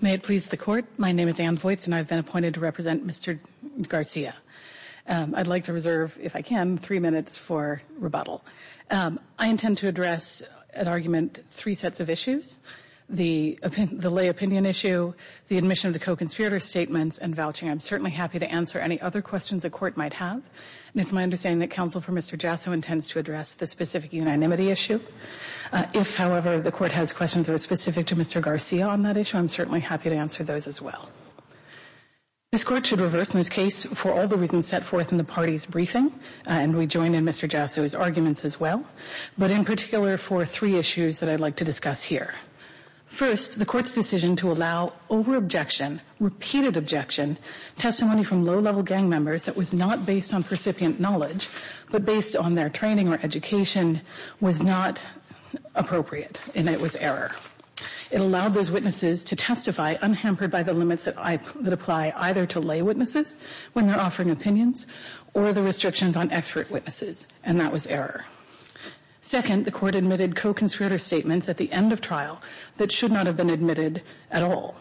May it please the Court, my name is Ann Vojts and I've been appointed to represent Mr. Garcia. I'd like to reserve, if I can, three minutes for rebuttal. I intend to address at argument three sets of issues. The lay opinion issue, the admission of the co-conspirator statements, and vouching. I'm certainly happy to answer any other questions the Court might have. It's my understanding that counsel for Mr. Jasso intends to address the specific unanimity issue. If, however, the Court has questions that are specific to Mr. Garcia on that issue, I'm certainly happy to answer those as well. This Court should reverse, in this case, for all the reasons set forth in the party's briefing, and we join in Mr. Jasso's arguments as well, but in particular for three issues that I'd like to discuss here. First, the Court's decision to allow over-objection, repeated objection, testimony from low-level gang members that was not based on recipient knowledge but based on their training or education was not appropriate, and it was error. It allowed those witnesses to testify unhampered by the limits that apply either to lay witnesses when they're offering opinions or the restrictions on expert witnesses, and that was error. Second, the Court admitted co-conspirator statements at the end of trial that should not have been admitted at all.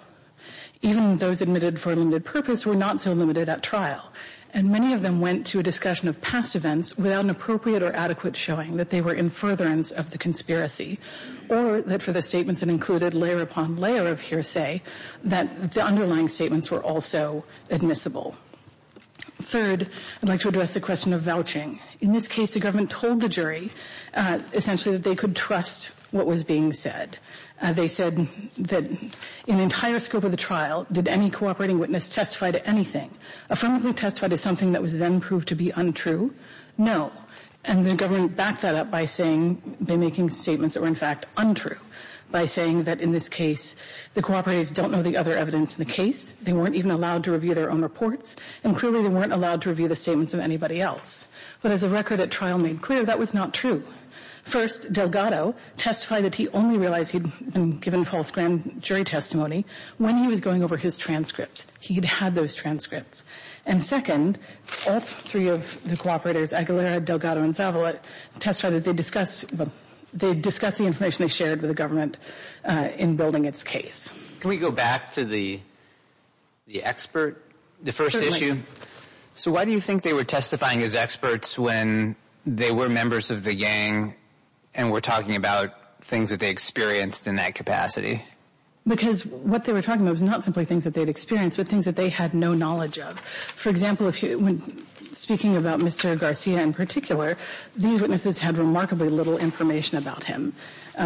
Even those admitted for a limited purpose were not so limited at trial, and many of them went to a discussion of past events without an appropriate or adequate showing that they were in furtherance of the conspiracy or that for the statements that included layer upon layer of hearsay that the underlying statements were also admissible. Third, I'd like to address the question of vouching. In this case, the government told the jury essentially that they could trust what was being said. They said that in the entire scope of the trial, did any cooperating witness testify to anything? Affirmatively testify to something that was then proved to be untrue? No. And the government backed that up by saying, by making statements that were in fact untrue, by saying that in this case the cooperators don't know the other evidence in the case, they weren't even allowed to review their own reports, and clearly they weren't allowed to review the statements of anybody else. But as the record at trial made clear, that was not true. First, Delgado testified that he only realized he'd been given false grand jury testimony when he was going over his transcripts. He had had those transcripts. And second, all three of the cooperators, Aguilera, Delgado, and Zavala, testified that they discussed the information they shared with the government in building its case. Can we go back to the expert, the first issue? So why do you think they were testifying as experts when they were members of the gang and were talking about things that they experienced in that capacity? Because what they were talking about was not simply things that they'd experienced, but things that they had no knowledge of. For example, speaking about Mr. Garcia in particular, these witnesses had remarkably little information about him.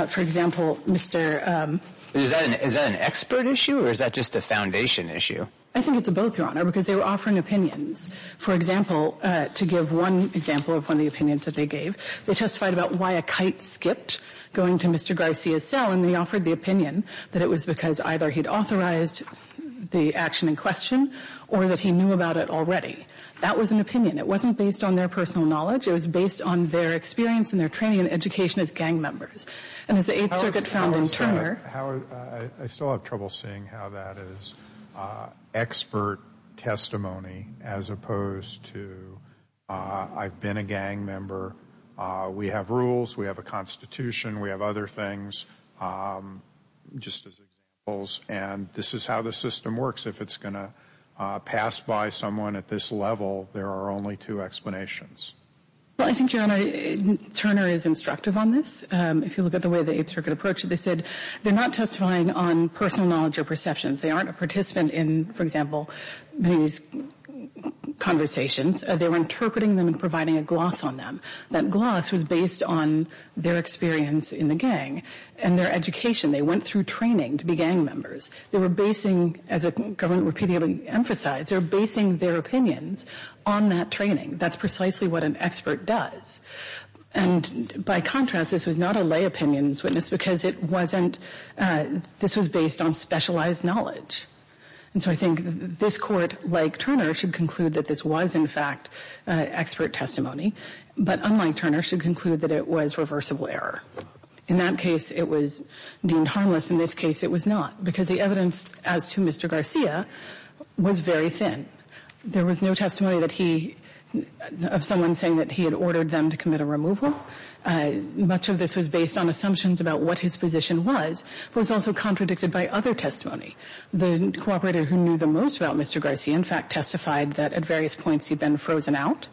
For example, Mr. Is that an expert issue, or is that just a foundation issue? I think it's both, Your Honor, because they were offering opinions. For example, to give one example of one of the opinions that they gave, they testified about why a kite skipped going to Mr. Garcia's cell, and they offered the opinion that it was because either he'd authorized the action in question or that he knew about it already. That was an opinion. It wasn't based on their personal knowledge. It was based on their experience and their training and education as gang members. And as the Eighth Circuit found in Turner I still have trouble seeing how that is expert testimony as opposed to I've been a gang member. We have rules. We have a constitution. We have other things. Just as examples, and this is how the system works. If it's going to pass by someone at this level, there are only two explanations. Well, I think, Your Honor, Turner is instructive on this. If you look at the way the Eighth Circuit approached it, they said they're not testifying on personal knowledge or perceptions. They aren't a participant in, for example, these conversations. They were interpreting them and providing a gloss on them. That gloss was based on their experience in the gang and their education. They went through training to be gang members. They were basing, as the government repeatedly emphasized, they were basing their opinions on that training. That's precisely what an expert does. And by contrast, this was not a lay opinions witness because it wasn't, this was based on specialized knowledge. And so I think this Court, like Turner, should conclude that this was, in fact, expert testimony. But unlike Turner, should conclude that it was reversible error. In that case, it was deemed harmless. In this case, it was not because the evidence as to Mr. Garcia was very thin. There was no testimony that he, of someone saying that he had ordered them to commit a removal. Much of this was based on assumptions about what his position was. It was also contradicted by other testimony. The cooperator who knew the most about Mr. Garcia, in fact, testified that at various points he'd been frozen out.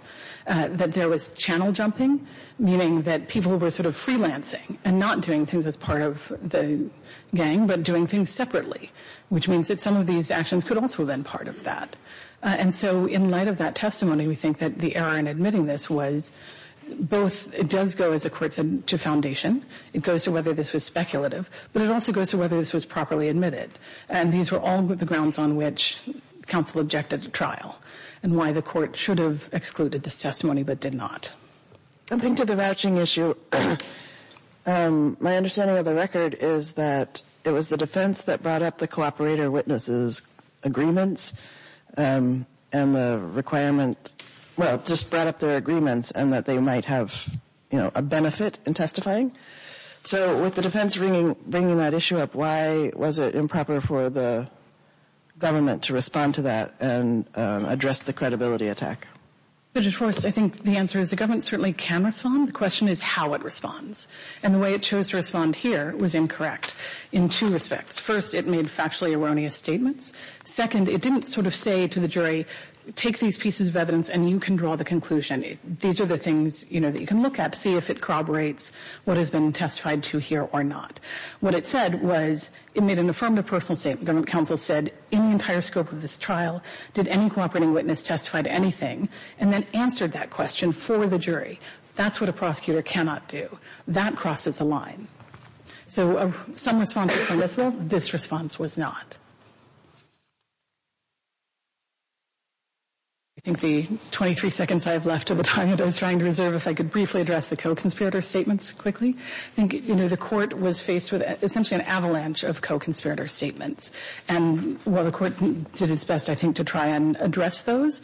That there was channel jumping, meaning that people were sort of freelancing and not doing things as part of the gang but doing things separately, which means that some of these actions could also have been part of that. And so in light of that testimony, we think that the error in admitting this was both, it does go, as the Court said, to foundation. It goes to whether this was speculative. But it also goes to whether this was properly admitted. And these were all the grounds on which counsel objected to trial and why the Court should have excluded this testimony but did not. Coming to the vouching issue, my understanding of the record is that it was the defense that brought up the cooperator witnesses' agreements and the requirement, well, just brought up their agreements and that they might have, you know, a benefit in testifying. So with the defense bringing that issue up, why was it improper for the government to respond to that and address the credibility attack? Judge Forrest, I think the answer is the government certainly can respond. The question is how it responds. And the way it chose to respond here was incorrect in two respects. First, it made factually erroneous statements. Second, it didn't sort of say to the jury, take these pieces of evidence and you can draw the conclusion. These are the things, you know, that you can look at to see if it corroborates what has been testified to here or not. What it said was it made an affirmative personal statement. Government counsel said in the entire scope of this trial, did any cooperating witness testify to anything and then answered that question for the jury. That's what a prosecutor cannot do. That crosses the line. So some responses were yes, well, this response was not. I think the 23 seconds I have left of the time I was trying to reserve, if I could briefly address the co-conspirator statements quickly. I think, you know, the court was faced with essentially an avalanche of co-conspirator statements. And while the court did its best, I think, to try and address those,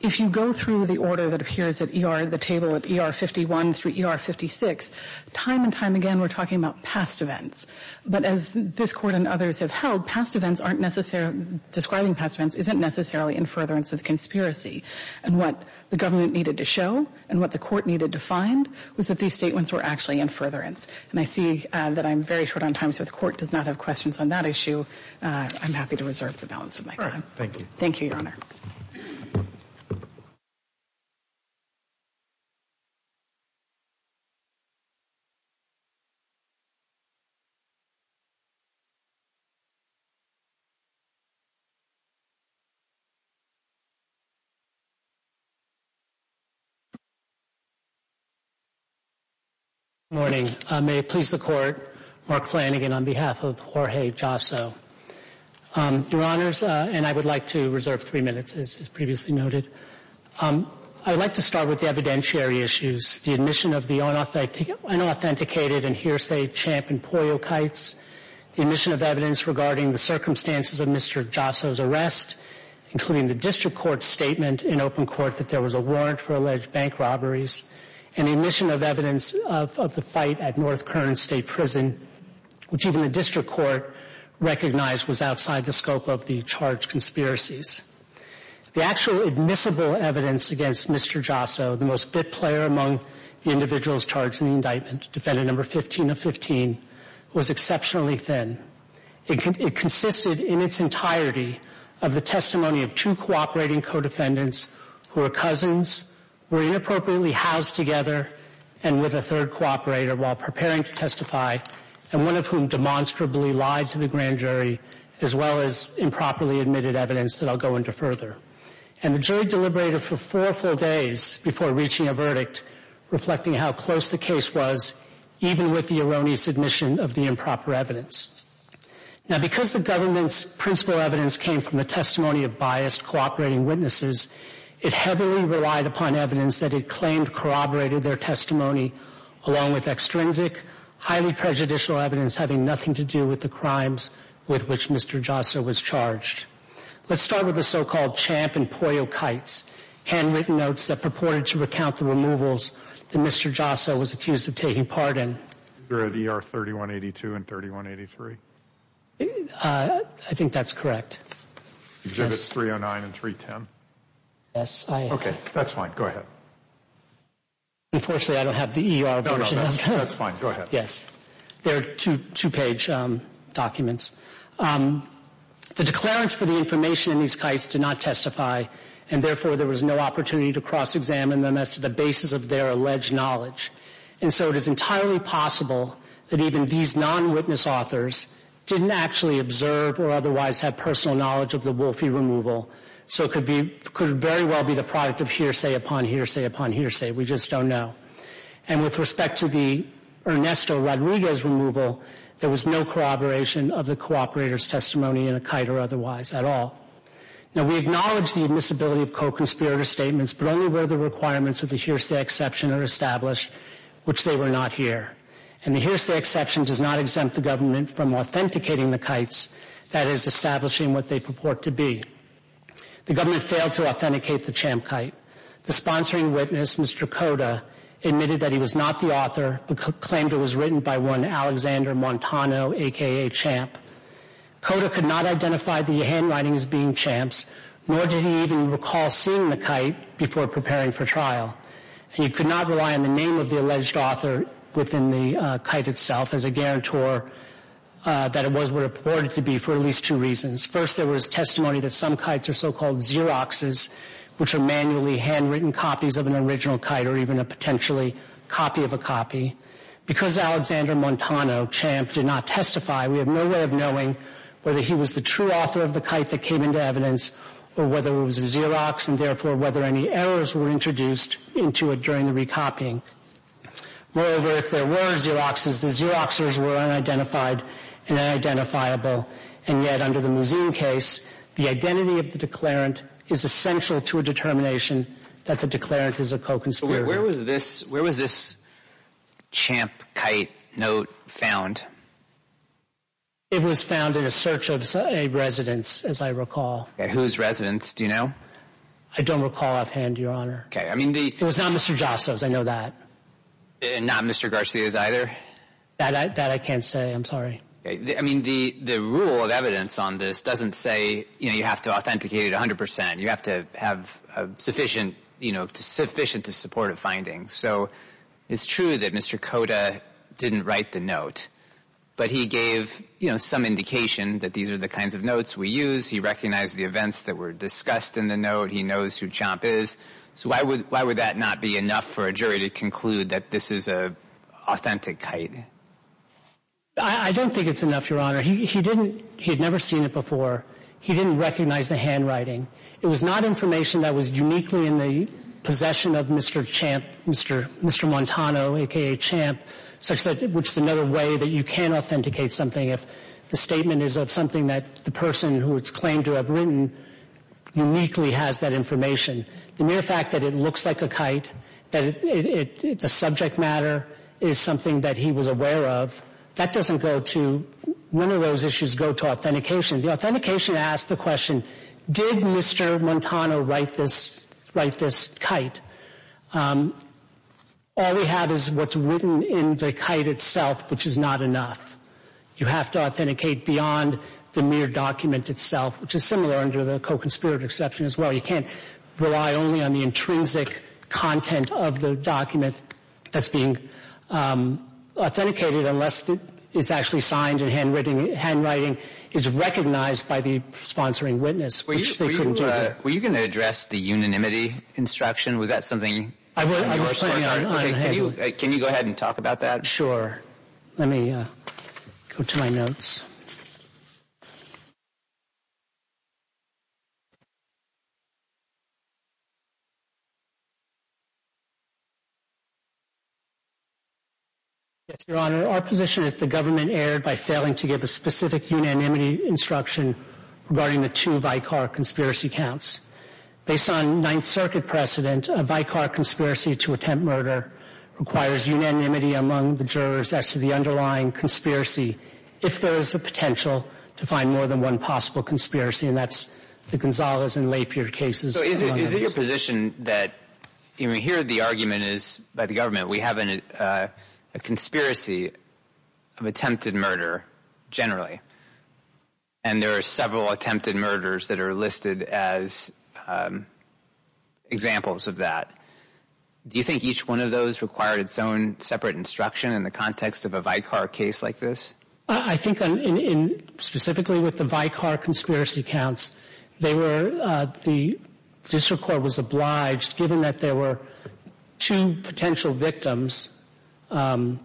if you go through the order that appears at E.R., the table at E.R. 51 through E.R. 56, time and time again we're talking about past events. But as this Court and others have held, past events aren't necessarily, describing past events isn't necessarily in furtherance of conspiracy. And what the government needed to show and what the court needed to find was that these statements were actually in furtherance. And I see that I'm very short on time, so the court does not have questions on that issue. I'm happy to reserve the balance of my time. Thank you. Thank you, Your Honor. Good morning. May it please the Court, Mark Flanagan on behalf of Jorge Jasso. Your Honors, and I would like to reserve three minutes, as previously noted. I would like to start with the evidentiary issues. The admission of the unauthenticated and hearsay Champ and Pollo Kites. The admission of evidence regarding the circumstances of Mr. Jasso's arrest, including the District Court's statement in open court that there was a warrant for alleged bank robberies. And the admission of evidence of the fight at North Kern State Prison, which even the District Court recognized was outside the scope of the charged conspiracies. The actual admissible evidence against Mr. Jasso, the most fit player among the individuals charged in the indictment, defendant number 15 of 15, was exceptionally thin. It consisted in its entirety of the testimony of two cooperating co-defendants who were cousins, were inappropriately housed together, and with a third cooperator while preparing to testify, and one of whom demonstrably lied to the grand jury, as well as improperly admitted evidence that I'll go into further. And the jury deliberated for four full days before reaching a verdict, reflecting how close the case was, even with the erroneous admission of the improper evidence. Now, because the government's principal evidence came from the testimony of biased cooperating witnesses, it heavily relied upon evidence that it claimed corroborated their testimony, along with extrinsic, highly prejudicial evidence having nothing to do with the crimes with which Mr. Jasso was charged. Let's start with the so-called Champ and Pollo Kites, handwritten notes that purported to recount the removals that Mr. Jasso was accused of taking part in. They're at ER 3182 and 3183. I think that's correct. Exhibits 309 and 310. Yes, I am. Okay, that's fine. Go ahead. Unfortunately, I don't have the ER version. No, no, that's fine. Go ahead. Yes. They're two-page documents. The declarants for the information in these kites did not testify, and therefore there was no opportunity to cross-examine them as to the basis of their alleged knowledge. And so it is entirely possible that even these non-witness authors didn't actually observe or otherwise have personal knowledge of the Wolfie removal, so it could very well be the product of hearsay upon hearsay upon hearsay. We just don't know. And with respect to the Ernesto Rodriguez removal, there was no corroboration of the cooperator's testimony in a kite or otherwise at all. Now, we acknowledge the admissibility of co-conspirator statements, but only where the requirements of the hearsay exception are established, which they were not here. And the hearsay exception does not exempt the government from authenticating the kites, that is, establishing what they purport to be. The government failed to authenticate the CHAMP kite. The sponsoring witness, Mr. Cota, admitted that he was not the author but claimed it was written by one Alexander Montano, a.k.a. CHAMP. Cota could not identify the handwriting as being CHAMP's, nor did he even recall seeing the kite before preparing for trial. And he could not rely on the name of the alleged author within the kite itself as a guarantor that it was what it purported to be for at least two reasons. First, there was testimony that some kites are so-called Xeroxes, which are manually handwritten copies of an original kite or even a potentially copy of a copy. Because Alexander Montano, CHAMP, did not testify, we have no way of knowing whether he was the true author of the kite that came into evidence or whether it was a Xerox and therefore whether any errors were introduced into it during the recopying. Moreover, if there were Xeroxes, the Xeroxers were unidentified and unidentifiable. And yet, under the Mouzine case, the identity of the declarant is essential to a determination that the declarant is a co-conspirator. Where was this CHAMP kite note found? It was found in a search of a residence, as I recall. Whose residence? Do you know? I don't recall offhand, Your Honor. It was not Mr. Jasso's, I know that. And not Mr. Garcia's either? That I can't say, I'm sorry. I mean, the rule of evidence on this doesn't say you have to authenticate 100%. You have to have sufficient, you know, sufficient to support a finding. So it's true that Mr. Cota didn't write the note, but he gave some indication that these are the kinds of notes we use. He recognized the events that were discussed in the note. He knows who CHAMP is. So why would that not be enough for a jury to conclude that this is an authentic kite? I don't think it's enough, Your Honor. He didn't, he had never seen it before. He didn't recognize the handwriting. It was not information that was uniquely in the possession of Mr. CHAMP, Mr. Montano, a.k.a. CHAMP, which is another way that you can authenticate something if the statement is of something that the person who it's claimed to have written uniquely has that information. The mere fact that it looks like a kite, that the subject matter is something that he was aware of, that doesn't go to, none of those issues go to authentication. The authentication asks the question, did Mr. Montano write this kite? All we have is what's written in the kite itself, which is not enough. You have to authenticate beyond the mere document itself, which is similar under the co-conspirator exception as well. You can't rely only on the intrinsic content of the document that's being authenticated unless it's actually signed and handwriting is recognized by the sponsoring witness, which they couldn't do. Were you going to address the unanimity instruction? Was that something you were supposed to? I was planning on it. Can you go ahead and talk about that? Sure. Let me go to my notes. Your Honor, our position is that the government erred by failing to give a specific unanimity instruction regarding the two Vicar conspiracy counts. Based on Ninth Circuit precedent, a Vicar conspiracy to attempt murder requires unanimity among the jurors as to the underlying conspiracy if there is a potential to find more than one possible conspiracy, and that's the Gonzales and Lapierre cases. Is it your position that here the argument is by the government we have a conspiracy of attempted murder generally, and there are several attempted murders that are listed as examples of that. Do you think each one of those required its own separate instruction in the context of a Vicar case like this? I think specifically with the Vicar conspiracy counts, the district court was obliged, given that there were two potential victims. I'm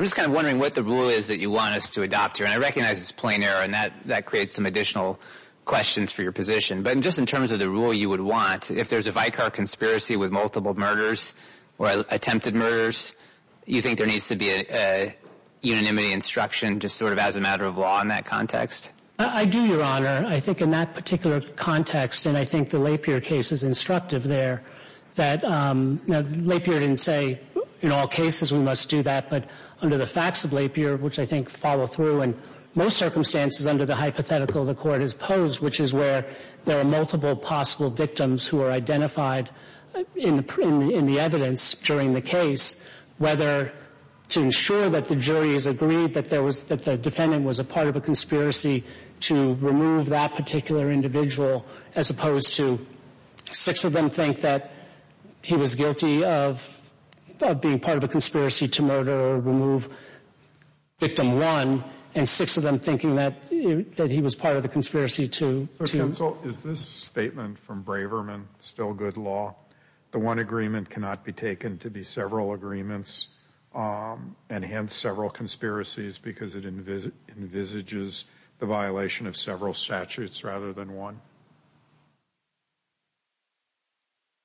just kind of wondering what the rule is that you want us to adopt here, and I recognize it's plain error, and that creates some additional questions for your position, but just in terms of the rule you would want, if there's a Vicar conspiracy with multiple murders or attempted murders, you think there needs to be a unanimity instruction just sort of as a matter of law in that context? I do, Your Honor. I think in that particular context, and I think the Lapierre case is instructive there, that Lapierre didn't say in all cases we must do that, but under the facts of Lapierre, which I think follow through, and most circumstances under the hypothetical the court has posed, which is where there are multiple possible victims who are identified in the evidence during the case, whether to ensure that the jury has agreed that the defendant was a part of a conspiracy to remove that particular individual as opposed to six of them think that he was guilty of being part of a conspiracy to murder or remove victim one, and six of them thinking that he was part of the conspiracy to... Again, still good law. The one agreement cannot be taken to be several agreements and hence several conspiracies because it envisages the violation of several statutes rather than one.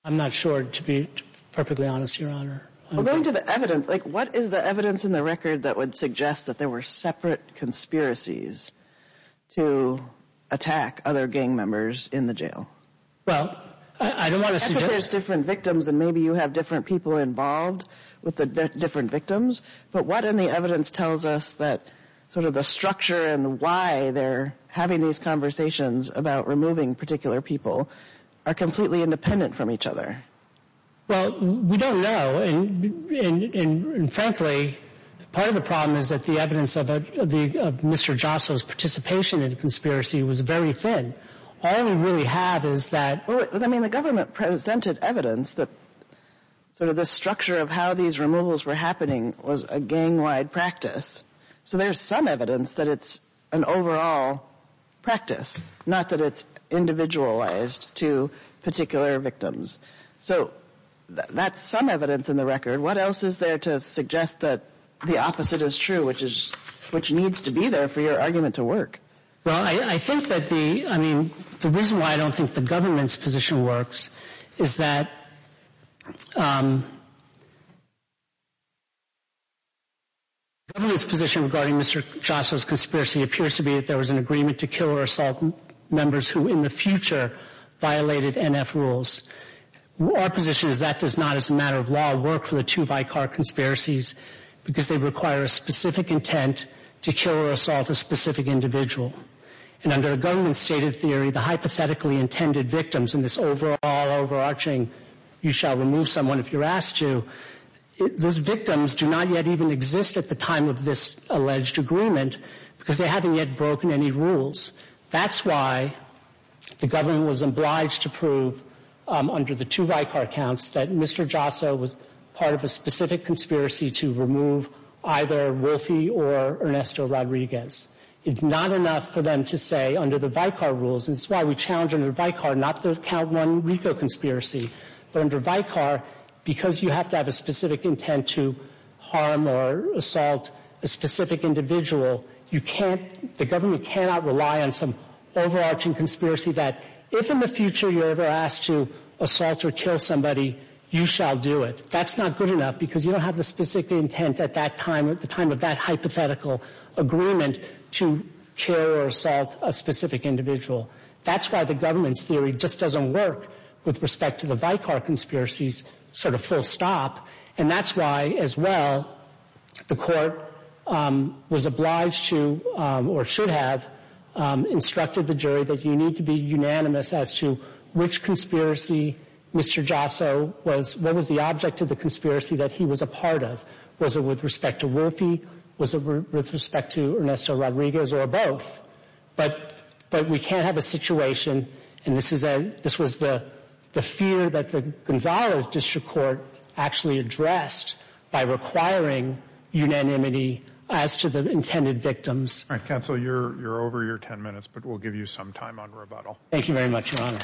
I'm not sure, to be perfectly honest, Your Honor. Going to the evidence, what is the evidence in the record that would suggest that there were separate conspiracies to attack other gang members in the jail? Well, I don't want to suggest... I think there's different victims and maybe you have different people involved with the different victims, but what in the evidence tells us that sort of the structure and why they're having these conversations about removing particular people are completely independent from each other? Well, we don't know, and frankly, part of the problem is that the evidence of Mr. Jostle's participation in the conspiracy was very thin. All we really have is that... Well, I mean, the government presented evidence that sort of the structure of how these removals were happening was a gang-wide practice. So there's some evidence that it's an overall practice, not that it's individualized to particular victims. So that's some evidence in the record. What else is there to suggest that the opposite is true, which needs to be there for your argument to work? Well, I think that the... I mean, the reason why I don't think the government's position works is that the government's position regarding Mr. Jostle's conspiracy appears to be that there was an agreement to kill or assault members who in the future violated NF rules. Our position is that does not, as a matter of law, work for the two Vicar conspiracies because they require a specific intent to kill or assault a specific individual. And under a government stated theory, the hypothetically intended victims in this overall overarching you shall remove someone if you're asked to, those victims do not yet even exist at the time of this alleged agreement because they haven't yet broken any rules. That's why the government was obliged to prove under the two Vicar accounts that Mr. Jostle was part of a specific conspiracy to remove either Wolfie or Ernesto Rodriguez. It's not enough for them to say under the Vicar rules, and it's why we challenge under Vicar not to count one RICO conspiracy, but under Vicar because you have to have a specific intent to harm or assault a specific individual, you can't... the government cannot rely on some overarching conspiracy that if in the future you're ever asked to assault or kill somebody, you shall do it. That's not good enough because you don't have the specific intent at that time, at the time of that hypothetical agreement, to kill or assault a specific individual. That's why the government's theory just doesn't work with respect to the Vicar conspiracies sort of full stop, and that's why as well the court was obliged to or should have instructed the jury that you need to be unanimous as to which conspiracy Mr. Jostle was... what was the object of the conspiracy that he was a part of? Was it with respect to Wolfie? Was it with respect to Ernesto Rodriguez or both? But we can't have a situation, and this was the fear that the Gonzales District Court actually addressed by requiring unanimity as to the intended victims. All right, Counsel, you're over your ten minutes, but we'll give you some time on rebuttal. Thank you very much, Your Honor.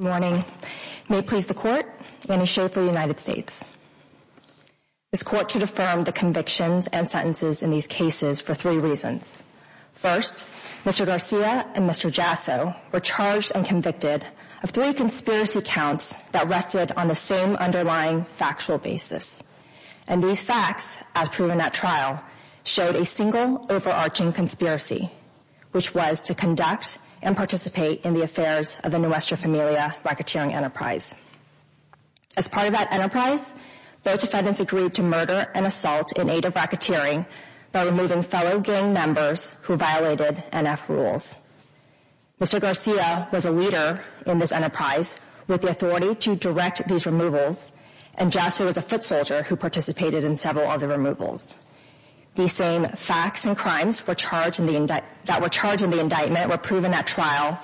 Good morning. May it please the Court, Annie Schafer, United States. This Court should affirm the convictions and sentences in these cases for three reasons. First, Mr. Garcia and Mr. Jasso were charged and convicted of three conspiracy counts that rested on the same underlying factual basis, and these facts, as proven at trial, showed a single overarching conspiracy, which was to conduct and participate in the affairs of the Nuestra Familia racketeering enterprise. As part of that enterprise, those defendants agreed to murder and assault in aid of racketeering by removing fellow gang members who violated NF rules. Mr. Garcia was a leader in this enterprise with the authority to direct these removals, and Jasso was a foot soldier who participated in several other removals. These same facts and crimes that were charged in the indictment were proven at trial,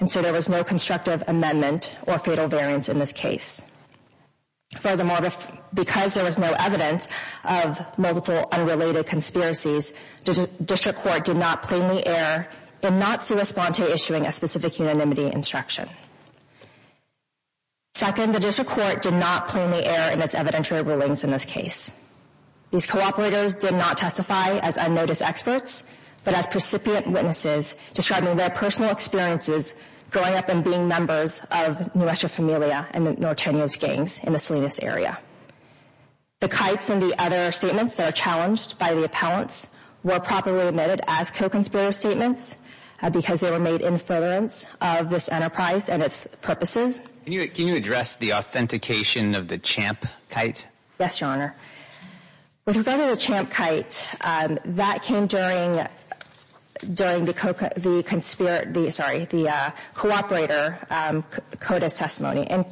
and so there was no constructive amendment or fatal variance in this case. Furthermore, because there was no evidence of multiple unrelated conspiracies, the District Court did not plainly err in not to respond to issuing a specific unanimity instruction. Second, the District Court did not plainly err in its evidentiary rulings in this case. These cooperators did not testify as unnoticed experts, but as precipient witnesses describing their personal experiences growing up and being members of Nuestra Familia and the Nortenios gangs in the Salinas area. The kites and the other statements that are challenged by the appellants were properly admitted as co-conspirator statements because they were made in furtherance of this enterprise and its purposes. Can you address the authentication of the CHAMP kite? Yes, Your Honor. With regard to the CHAMP kite, that came during the cooperator CODIS testimony,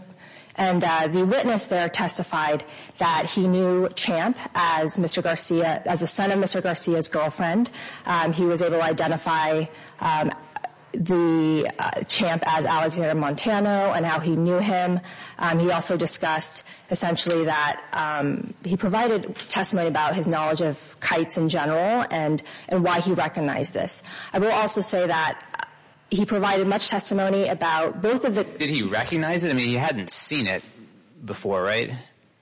and the witness there testified that he knew CHAMP as the son of Mr. Garcia's girlfriend. He was able to identify the CHAMP as Alexander Montano and how he knew him. He also discussed, essentially, that he provided testimony about his knowledge of kites in general and why he recognized this. I will also say that he provided much testimony about both of the... Did he recognize it? I mean, he hadn't seen it before, right?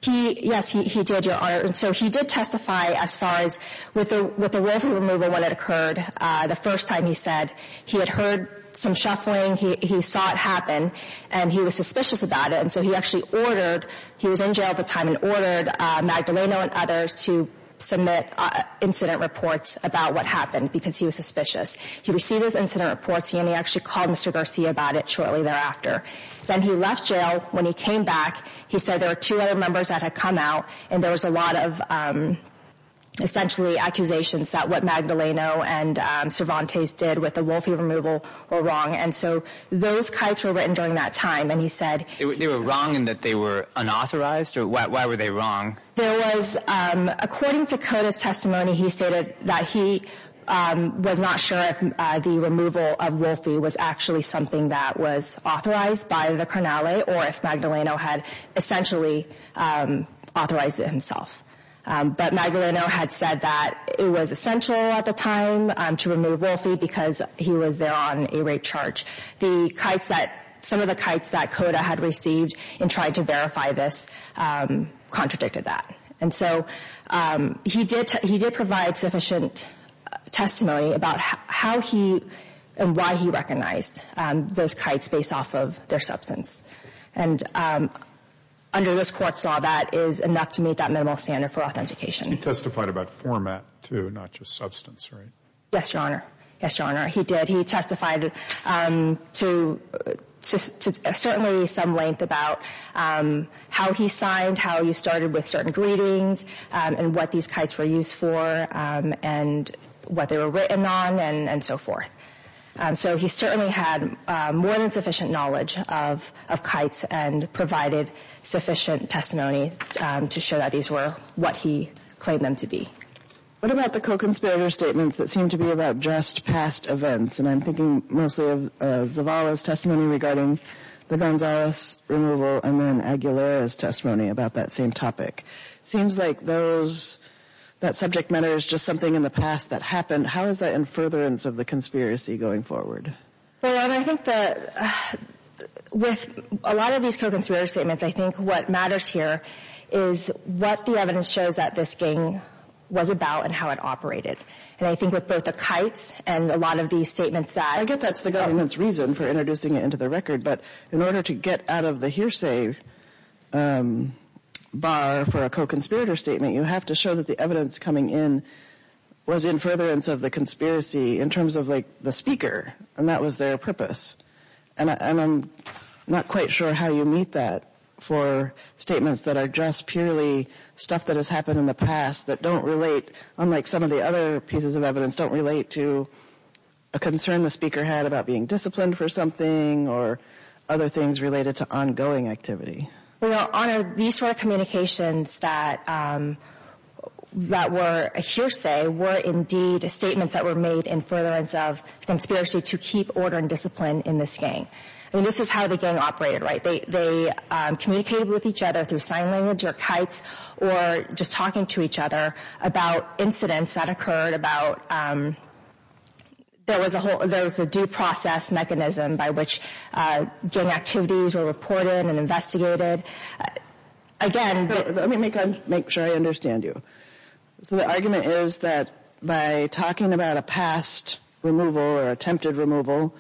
Yes, he did, Your Honor. So he did testify as far as with the roving removal when it occurred. The first time he said he had heard some shuffling, he saw it happen, and he was suspicious about it. And so he actually ordered, he was in jail at the time, and ordered Magdaleno and others to submit incident reports about what happened because he was suspicious. He received those incident reports, and he actually called Mr. Garcia about it shortly thereafter. Then he left jail. When he came back, he said there were two other members that had come out, and there was a lot of, essentially, accusations that what Magdaleno and Cervantes did with the roving removal were wrong. And so those kites were written during that time, and he said... They were wrong in that they were unauthorized? Why were they wrong? There was, according to Cota's testimony, he stated that he was not sure if the removal of Wolfie was actually something that was authorized by the Carnale or if Magdaleno had essentially authorized it himself. But Magdaleno had said that it was essential at the time to remove Wolfie because he was there on a rape charge. The kites that... Some of the kites that Cota had received and tried to verify this contradicted that. And so he did provide sufficient testimony about how he and why he recognized those kites based off of their substance. And under this court's law, that is enough to meet that minimal standard for authentication. He testified about format, too, not just substance, right? Yes, Your Honor. Yes, Your Honor, he did. He testified to certainly some length about how he signed, how he started with certain greetings, and what these kites were used for, and what they were written on, and so forth. So he certainly had more than sufficient knowledge of kites and provided sufficient testimony to show that these were what he claimed them to be. What about the co-conspirator statements that seem to be about just past events? And I'm thinking mostly of Zavala's testimony regarding the Gonzalez removal and then Aguilera's testimony about that same topic. It seems like that subject matter is just something in the past that happened. How is that in furtherance of the conspiracy going forward? Well, Your Honor, I think that with a lot of these co-conspirator statements, I think what matters here is what the evidence shows that this gang was about and how it operated. And I think with both the kites and a lot of these statements that— I get that's the government's reason for introducing it into the record, but in order to get out of the hearsay bar for a co-conspirator statement, you have to show that the evidence coming in was in furtherance of the conspiracy in terms of, like, the speaker, and that was their purpose. And I'm not quite sure how you meet that for statements that are just purely stuff that has happened in the past that don't relate, unlike some of the other pieces of evidence, don't relate to a concern the speaker had about being disciplined for something or other things related to ongoing activity. Well, Your Honor, these sort of communications that were a hearsay were indeed statements that were made in furtherance of conspiracy to keep order and discipline in this gang. I mean, this is how the gang operated, right? They communicated with each other through sign language or kites or just talking to each other about incidents that occurred about— there was a whole—there was a due process mechanism by which gang activities were reported and investigated. Again— Let me make sure I understand you. So the argument is that by talking about a past removal or attempted removal,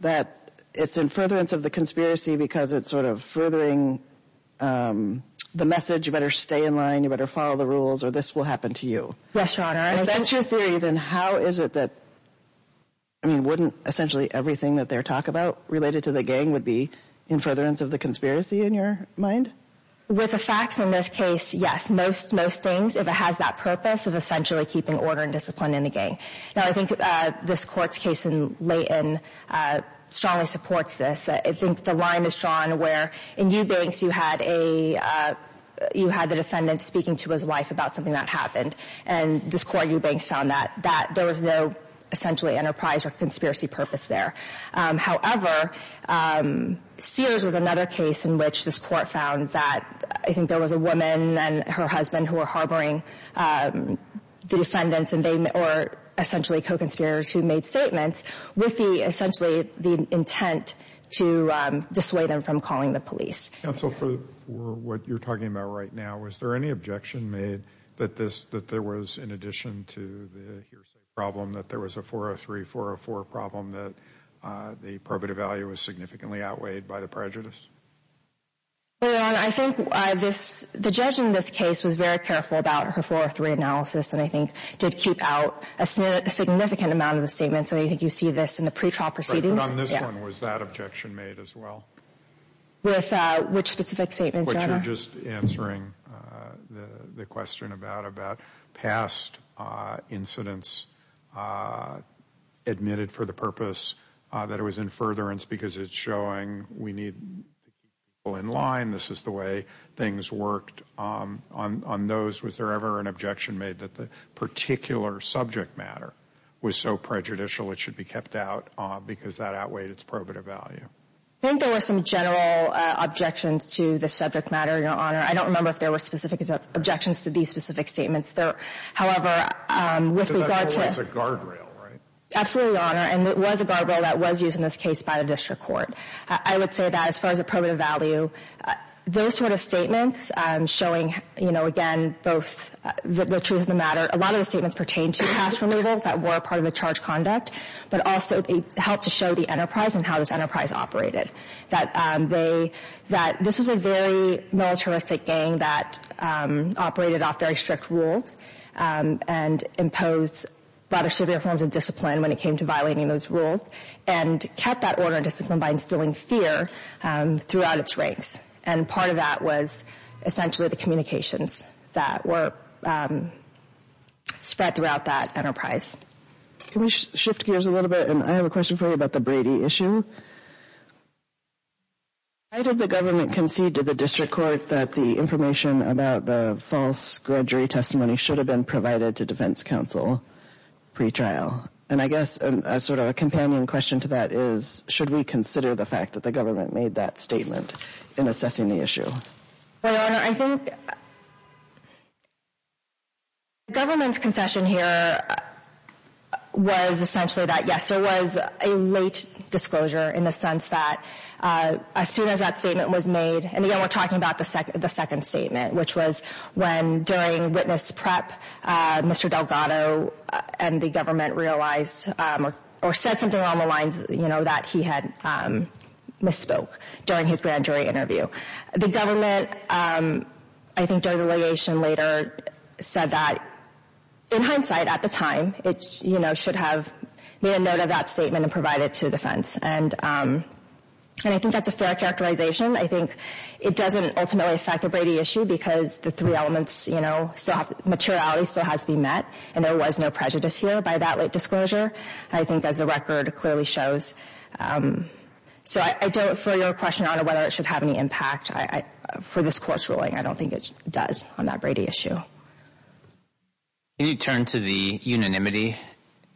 that it's in furtherance of the conspiracy because it's sort of furthering the message, you better stay in line, you better follow the rules, or this will happen to you. Yes, Your Honor. If that's your theory, then how is it that— I mean, wouldn't essentially everything that they talk about related to the gang would be in furtherance of the conspiracy in your mind? With the facts in this case, yes. Most things, if it has that purpose of essentially keeping order and discipline in the gang. Now, I think this Court's case in Leighton strongly supports this. I think the line is drawn where in Eubanks you had a— you had the defendant speaking to his wife about something that happened, and this Court in Eubanks found that there was no essentially enterprise or conspiracy purpose there. However, Sears was another case in which this Court found that— I think there was a woman and her husband who were harboring the defendants or essentially co-conspirators who made statements with essentially the intent to dissuade them from calling the police. Counsel, for what you're talking about right now, was there any objection made that there was in addition to the hearsay problem that there was a 403-404 problem that the probative value was significantly outweighed by the prejudice? Your Honor, I think the judge in this case was very careful about her 403 analysis and I think did keep out a significant amount of the statements, and I think you see this in the pretrial proceedings. But on this one, was that objection made as well? With which specific statements, Your Honor? What you're just answering the question about, about past incidents admitted for the purpose that it was in furtherance because it's showing we need to keep people in line, this is the way things worked. On those, was there ever an objection made that the particular subject matter was so prejudicial it should be kept out because that outweighed its probative value? I think there were some general objections to the subject matter, Your Honor. I don't remember if there were specific objections to these specific statements. However, with regard to... So that's always a guardrail, right? Absolutely, Your Honor, and it was a guardrail that was used in this case by the district court. I would say that as far as a probative value, those sort of statements showing, again, both the truth of the matter, a lot of the statements pertain to past remittals that were part of the charge conduct, but also they helped to show the enterprise and how this enterprise operated, that this was a very militaristic gang that operated off very strict rules and imposed rather severe forms of discipline when it came to violating those rules and kept that order disciplined by instilling fear throughout its ranks. And part of that was essentially the communications that were spread throughout that enterprise. Can we shift gears a little bit? And I have a question for you about the Brady issue. Why did the government concede to the district court that the information about the false grudge retestimony should have been provided to defense counsel pretrial? And I guess sort of a companion question to that is, should we consider the fact that the government made that statement in assessing the issue? Your Honor, I think the government's concession here was essentially that yes, there was a late disclosure in the sense that as soon as that statement was made, and again, we're talking about the second statement, which was when during witness prep, Mr. Delgado and the government realized or said something along the lines that he had misspoke during his grand jury interview. The government, I think during the litigation later, said that in hindsight at the time, it should have made a note of that statement and provided it to defense. And I think that's a fair characterization. I think it doesn't ultimately affect the Brady issue because the three elements, you know, materiality still has to be met, and there was no prejudice here by that late disclosure. I think as the record clearly shows. So I don't, for your question, Your Honor, whether it should have any impact for this court's ruling, I don't think it does on that Brady issue. Can you turn to the unanimity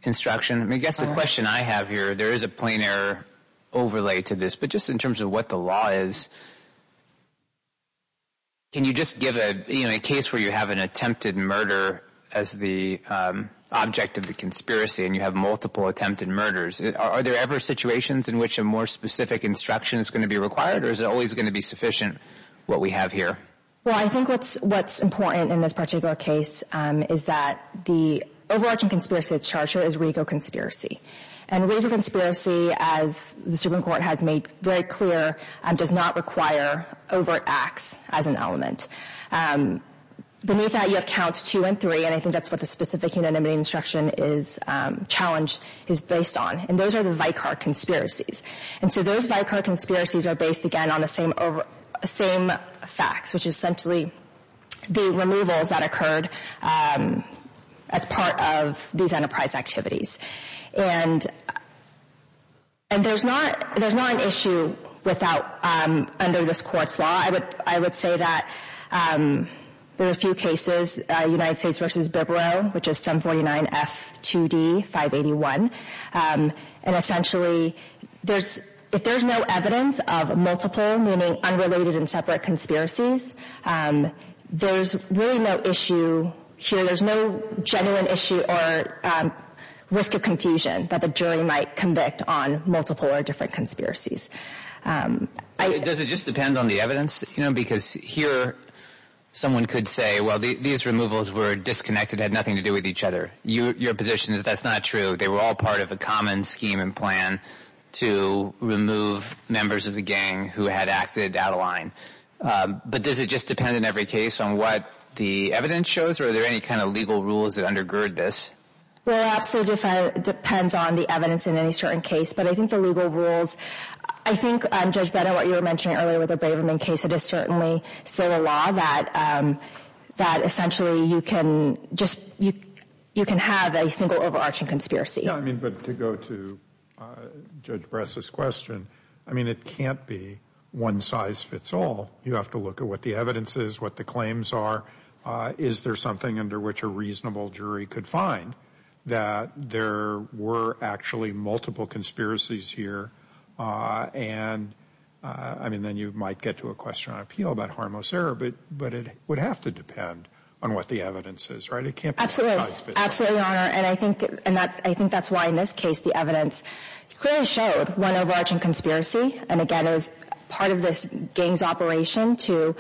instruction? I mean, I guess the question I have here, there is a plain error overlay to this, but just in terms of what the law is, can you just give a case where you have an attempted murder as the object of the conspiracy and you have multiple attempted murders, are there ever situations in which a more specific instruction is going to be required, or is it always going to be sufficient what we have here? Well, I think what's important in this particular case is that the overarching conspiracy of the charger is Rigo conspiracy. And Rigo conspiracy, as the Supreme Court has made very clear, does not require overt acts as an element. Beneath that, you have Counts 2 and 3, and I think that's what the specific unanimity instruction is challenged, is based on, and those are the Vicar conspiracies. And so those Vicar conspiracies are based, again, on the same facts, which is essentially the removals that occurred as part of these enterprise activities. And there's not an issue under this Court's law. I would say that there are a few cases, United States v. Bibbro, which is 749F2D581, and essentially if there's no evidence of multiple, meaning unrelated and separate conspiracies, there's really no issue here. There's no risk of confusion that the jury might convict on multiple or different conspiracies. Does it just depend on the evidence? Because here someone could say, well, these removals were disconnected, had nothing to do with each other. Your position is that's not true. They were all part of a common scheme and plan to remove members of the gang who had acted out of line. But does it just depend on every case on what the evidence shows, or are there any kind of legal rules that undergird this? Well, it absolutely depends on the evidence in any certain case, but I think the legal rules, I think, Judge Bennett, what you were mentioning earlier with the Braverman case, it is certainly still a law that essentially you can just, you can have a single overarching conspiracy. Yeah, I mean, but to go to Judge Bress's question, I mean, it can't be one size fits all. You have to look at what the evidence is, what the claims are. Is there something under which a reasonable jury could find that there were actually multiple conspiracies here? And, I mean, then you might get to a question on appeal about harmless error, but it would have to depend on what the evidence is, right? It can't be one size fits all. Absolutely, absolutely, Your Honor. And I think that's why in this case the evidence clearly showed one overarching conspiracy. And, again, it was part of this gang's operation to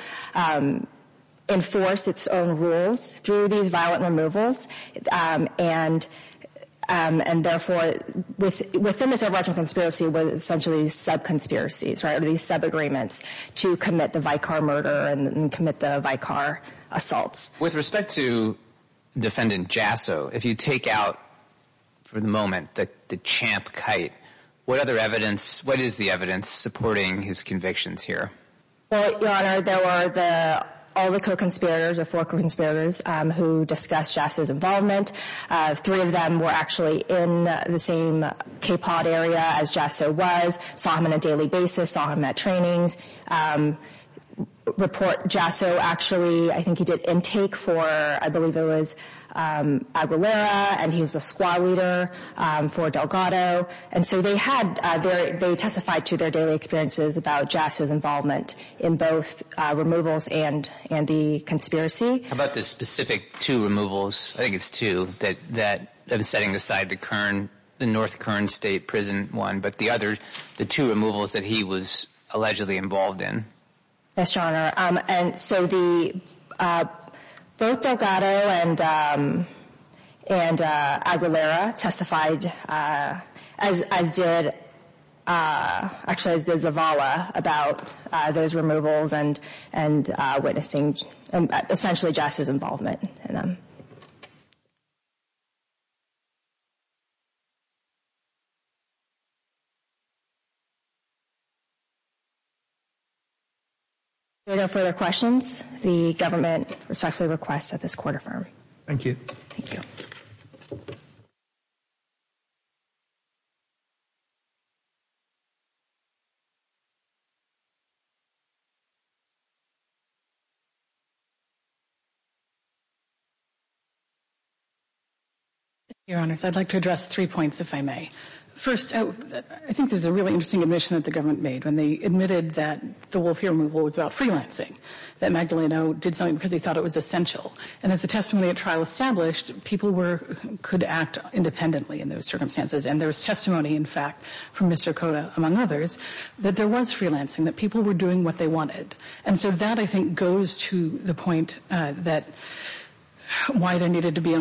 enforce its own rules through these violent removals. And, therefore, within this overarching conspiracy were essentially sub-conspiracies, right, or these sub-agreements to commit the Vicar murder and commit the Vicar assaults. With respect to Defendant Jasso, if you take out for the moment the champ kite, what other evidence, what is the evidence supporting his convictions here? Well, Your Honor, there were all the co-conspirators, or four co-conspirators, who discussed Jasso's involvement. Three of them were actually in the same KPOD area as Jasso was, saw him on a daily basis, saw him at trainings. Jasso actually, I think he did intake for, I believe it was Aguilera, and he was a squad leader for Delgado. And so they testified to their daily experiences about Jasso's involvement in both removals and the conspiracy. How about the specific two removals, I think it's two, that was setting aside the North Kern State Prison one, but the two removals that he was allegedly involved in? Yes, Your Honor. And so both Delgado and Aguilera testified, as did, actually as did Zavala, about those removals and witnessing essentially Jasso's involvement in them. If there are no further questions, the government respectfully requests that this court affirm. Thank you. Thank you. Thank you, Your Honors. I'd like to address three points, if I may. First, I think there's a really interesting admission that the government made when they admitted that the Wolf ear removal was about freelancing, that Magdaleno did something because he thought it was essential. And as the testimony at trial established, people could act independently in those circumstances. And there was testimony, in fact, from Mr. Cota, among others, that there was freelancing, that people were doing what they wanted. And so that, I think, goes to the point that why there needed to be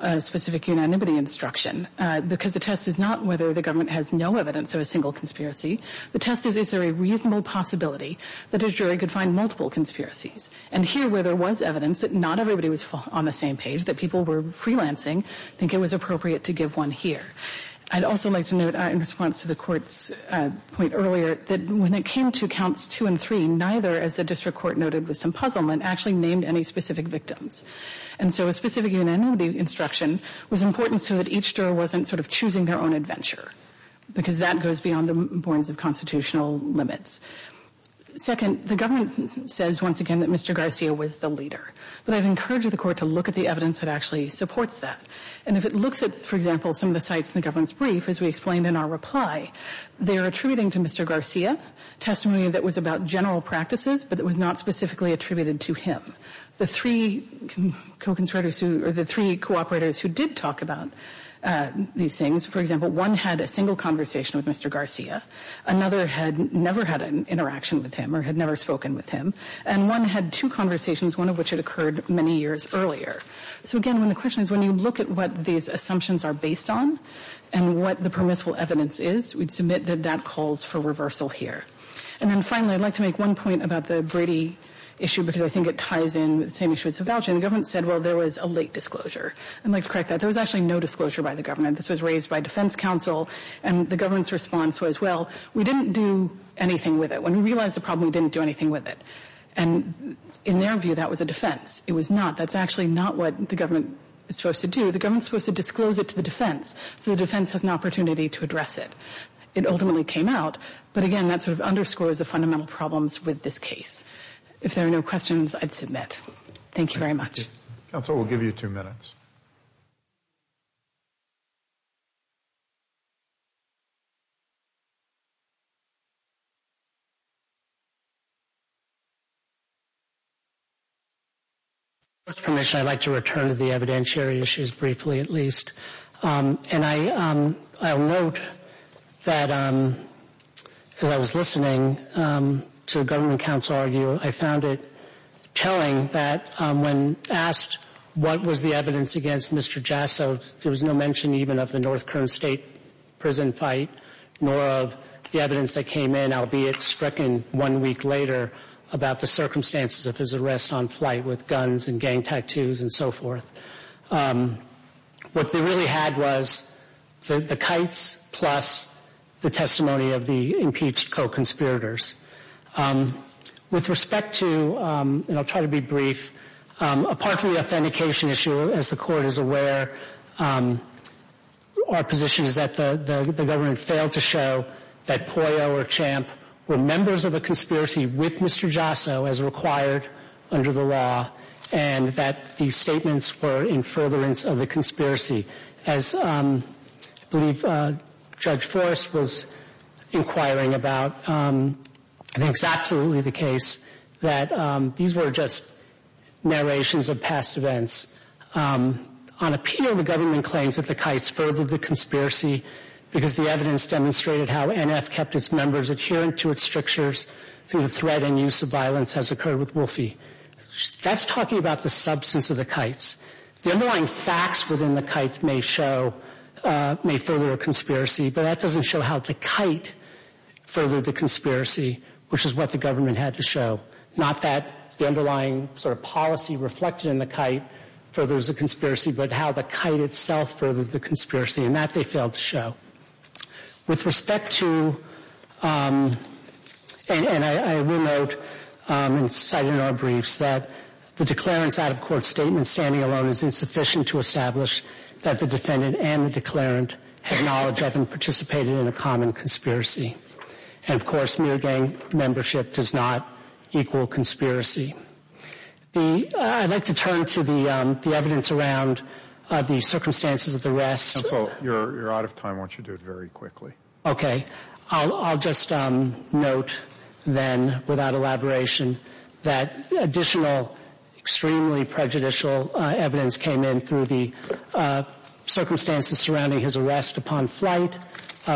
a specific unanimity instruction, because the test is not whether the government has no evidence of a single conspiracy. The test is, is there a reasonable possibility that a jury could find multiple conspiracies? And here, where there was evidence that not everybody was on the same page, that people were freelancing, I think it was appropriate to give one here. I'd also like to note, in response to the Court's point earlier, that when it came to counts two and three, neither, as the district court noted with some puzzlement, actually named any specific victims. And so a specific unanimity instruction was important so that each juror wasn't sort of choosing their own adventure, because that goes beyond the bounds of constitutional limits. Second, the government says, once again, that Mr. Garcia was the leader. But I'd encourage the Court to look at the evidence that actually supports that. And if it looks at, for example, some of the sites in the government's brief, as we explained in our reply, they're attributing to Mr. Garcia testimony that was about general practices, but that was not specifically attributed to him. The three co-conspirators who, or the three cooperators who did talk about these things, for example, one had a single conversation with Mr. Garcia. Another had never had an interaction with him or had never spoken with him. And one had two conversations, one of which had occurred many years earlier. So, again, when the question is, when you look at what these assumptions are based on and what the permissible evidence is, we'd submit that that calls for reversal here. And then, finally, I'd like to make one point about the Brady issue, because I think it ties in with the same issue as the voucher. The government said, well, there was a late disclosure. I'd like to correct that. There was actually no disclosure by the government. This was raised by defense counsel. And the government's response was, well, we didn't do anything with it. When we realized the problem, we didn't do anything with it. And in their view, that was a defense. It was not. That's actually not what the government is supposed to do. The government is supposed to disclose it to the defense so the defense has an opportunity to address it. It ultimately came out. But, again, that sort of underscores the fundamental problems with this case. If there are no questions, I'd submit. Thank you very much. Counsel, we'll give you two minutes. With your permission, I'd like to return to the evidentiary issues briefly at least. And I'll note that as I was listening to the government counsel argue, I found it telling that when asked what was the evidence against Mr. Jasso, there was no mention even of the North Kern State prison fight, nor of the evidence that came in, albeit stricken one week later, about the circumstances of his arrest on flight with guns and gang tattoos and so forth. What they really had was the kites plus the testimony of the impeached co-conspirators. With respect to, and I'll try to be brief, apart from the authentication issue, as the court is aware, our position is that the government failed to show that Pollo or Champ were members of a conspiracy with Mr. Jasso as required under the law and that these statements were in furtherance of the conspiracy. As I believe Judge Forrest was inquiring about, I think it's absolutely the case that these were just narrations of past events. On appeal, the government claims that the kites furthered the conspiracy because the evidence demonstrated how NF kept its members adherent to its strictures through the threat and use of violence as occurred with Wolfie. That's talking about the substance of the kites. The underlying facts within the kites may show, may further a conspiracy, but that doesn't show how the kite furthered the conspiracy, which is what the government had to show. Not that the underlying sort of policy reflected in the kite furthers the conspiracy, but how the kite itself furthered the conspiracy, and that they failed to show. With respect to, and I will note and cite in our briefs, that the declarant's out-of-court statement standing alone is insufficient to establish that the defendant and the declarant had knowledge of and participated in a common conspiracy. And, of course, mere gang membership does not equal conspiracy. I'd like to turn to the evidence around the circumstances of the arrest. You're out of time. I want you to do it very quickly. Okay. I'll just note then, without elaboration, that additional extremely prejudicial evidence came in through the circumstances surrounding his arrest upon flight,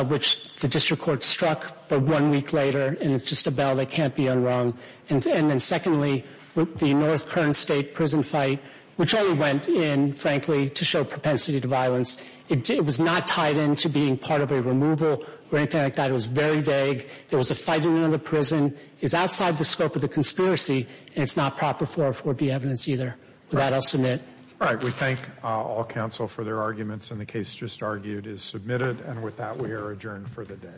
which the district court struck, but one week later, and it's just a bell that can't be unrung. And then secondly, the North Kern State prison fight, which only went in, frankly, to show propensity to violence. It was not tied in to being part of a removal or anything like that. It was very vague. There was a fighting in the prison. It's outside the scope of the conspiracy, and it's not proper for it to be evidence either. With that, I'll submit. All right. We thank all counsel for their arguments, and the case just argued is submitted. And with that, we are adjourned for the day.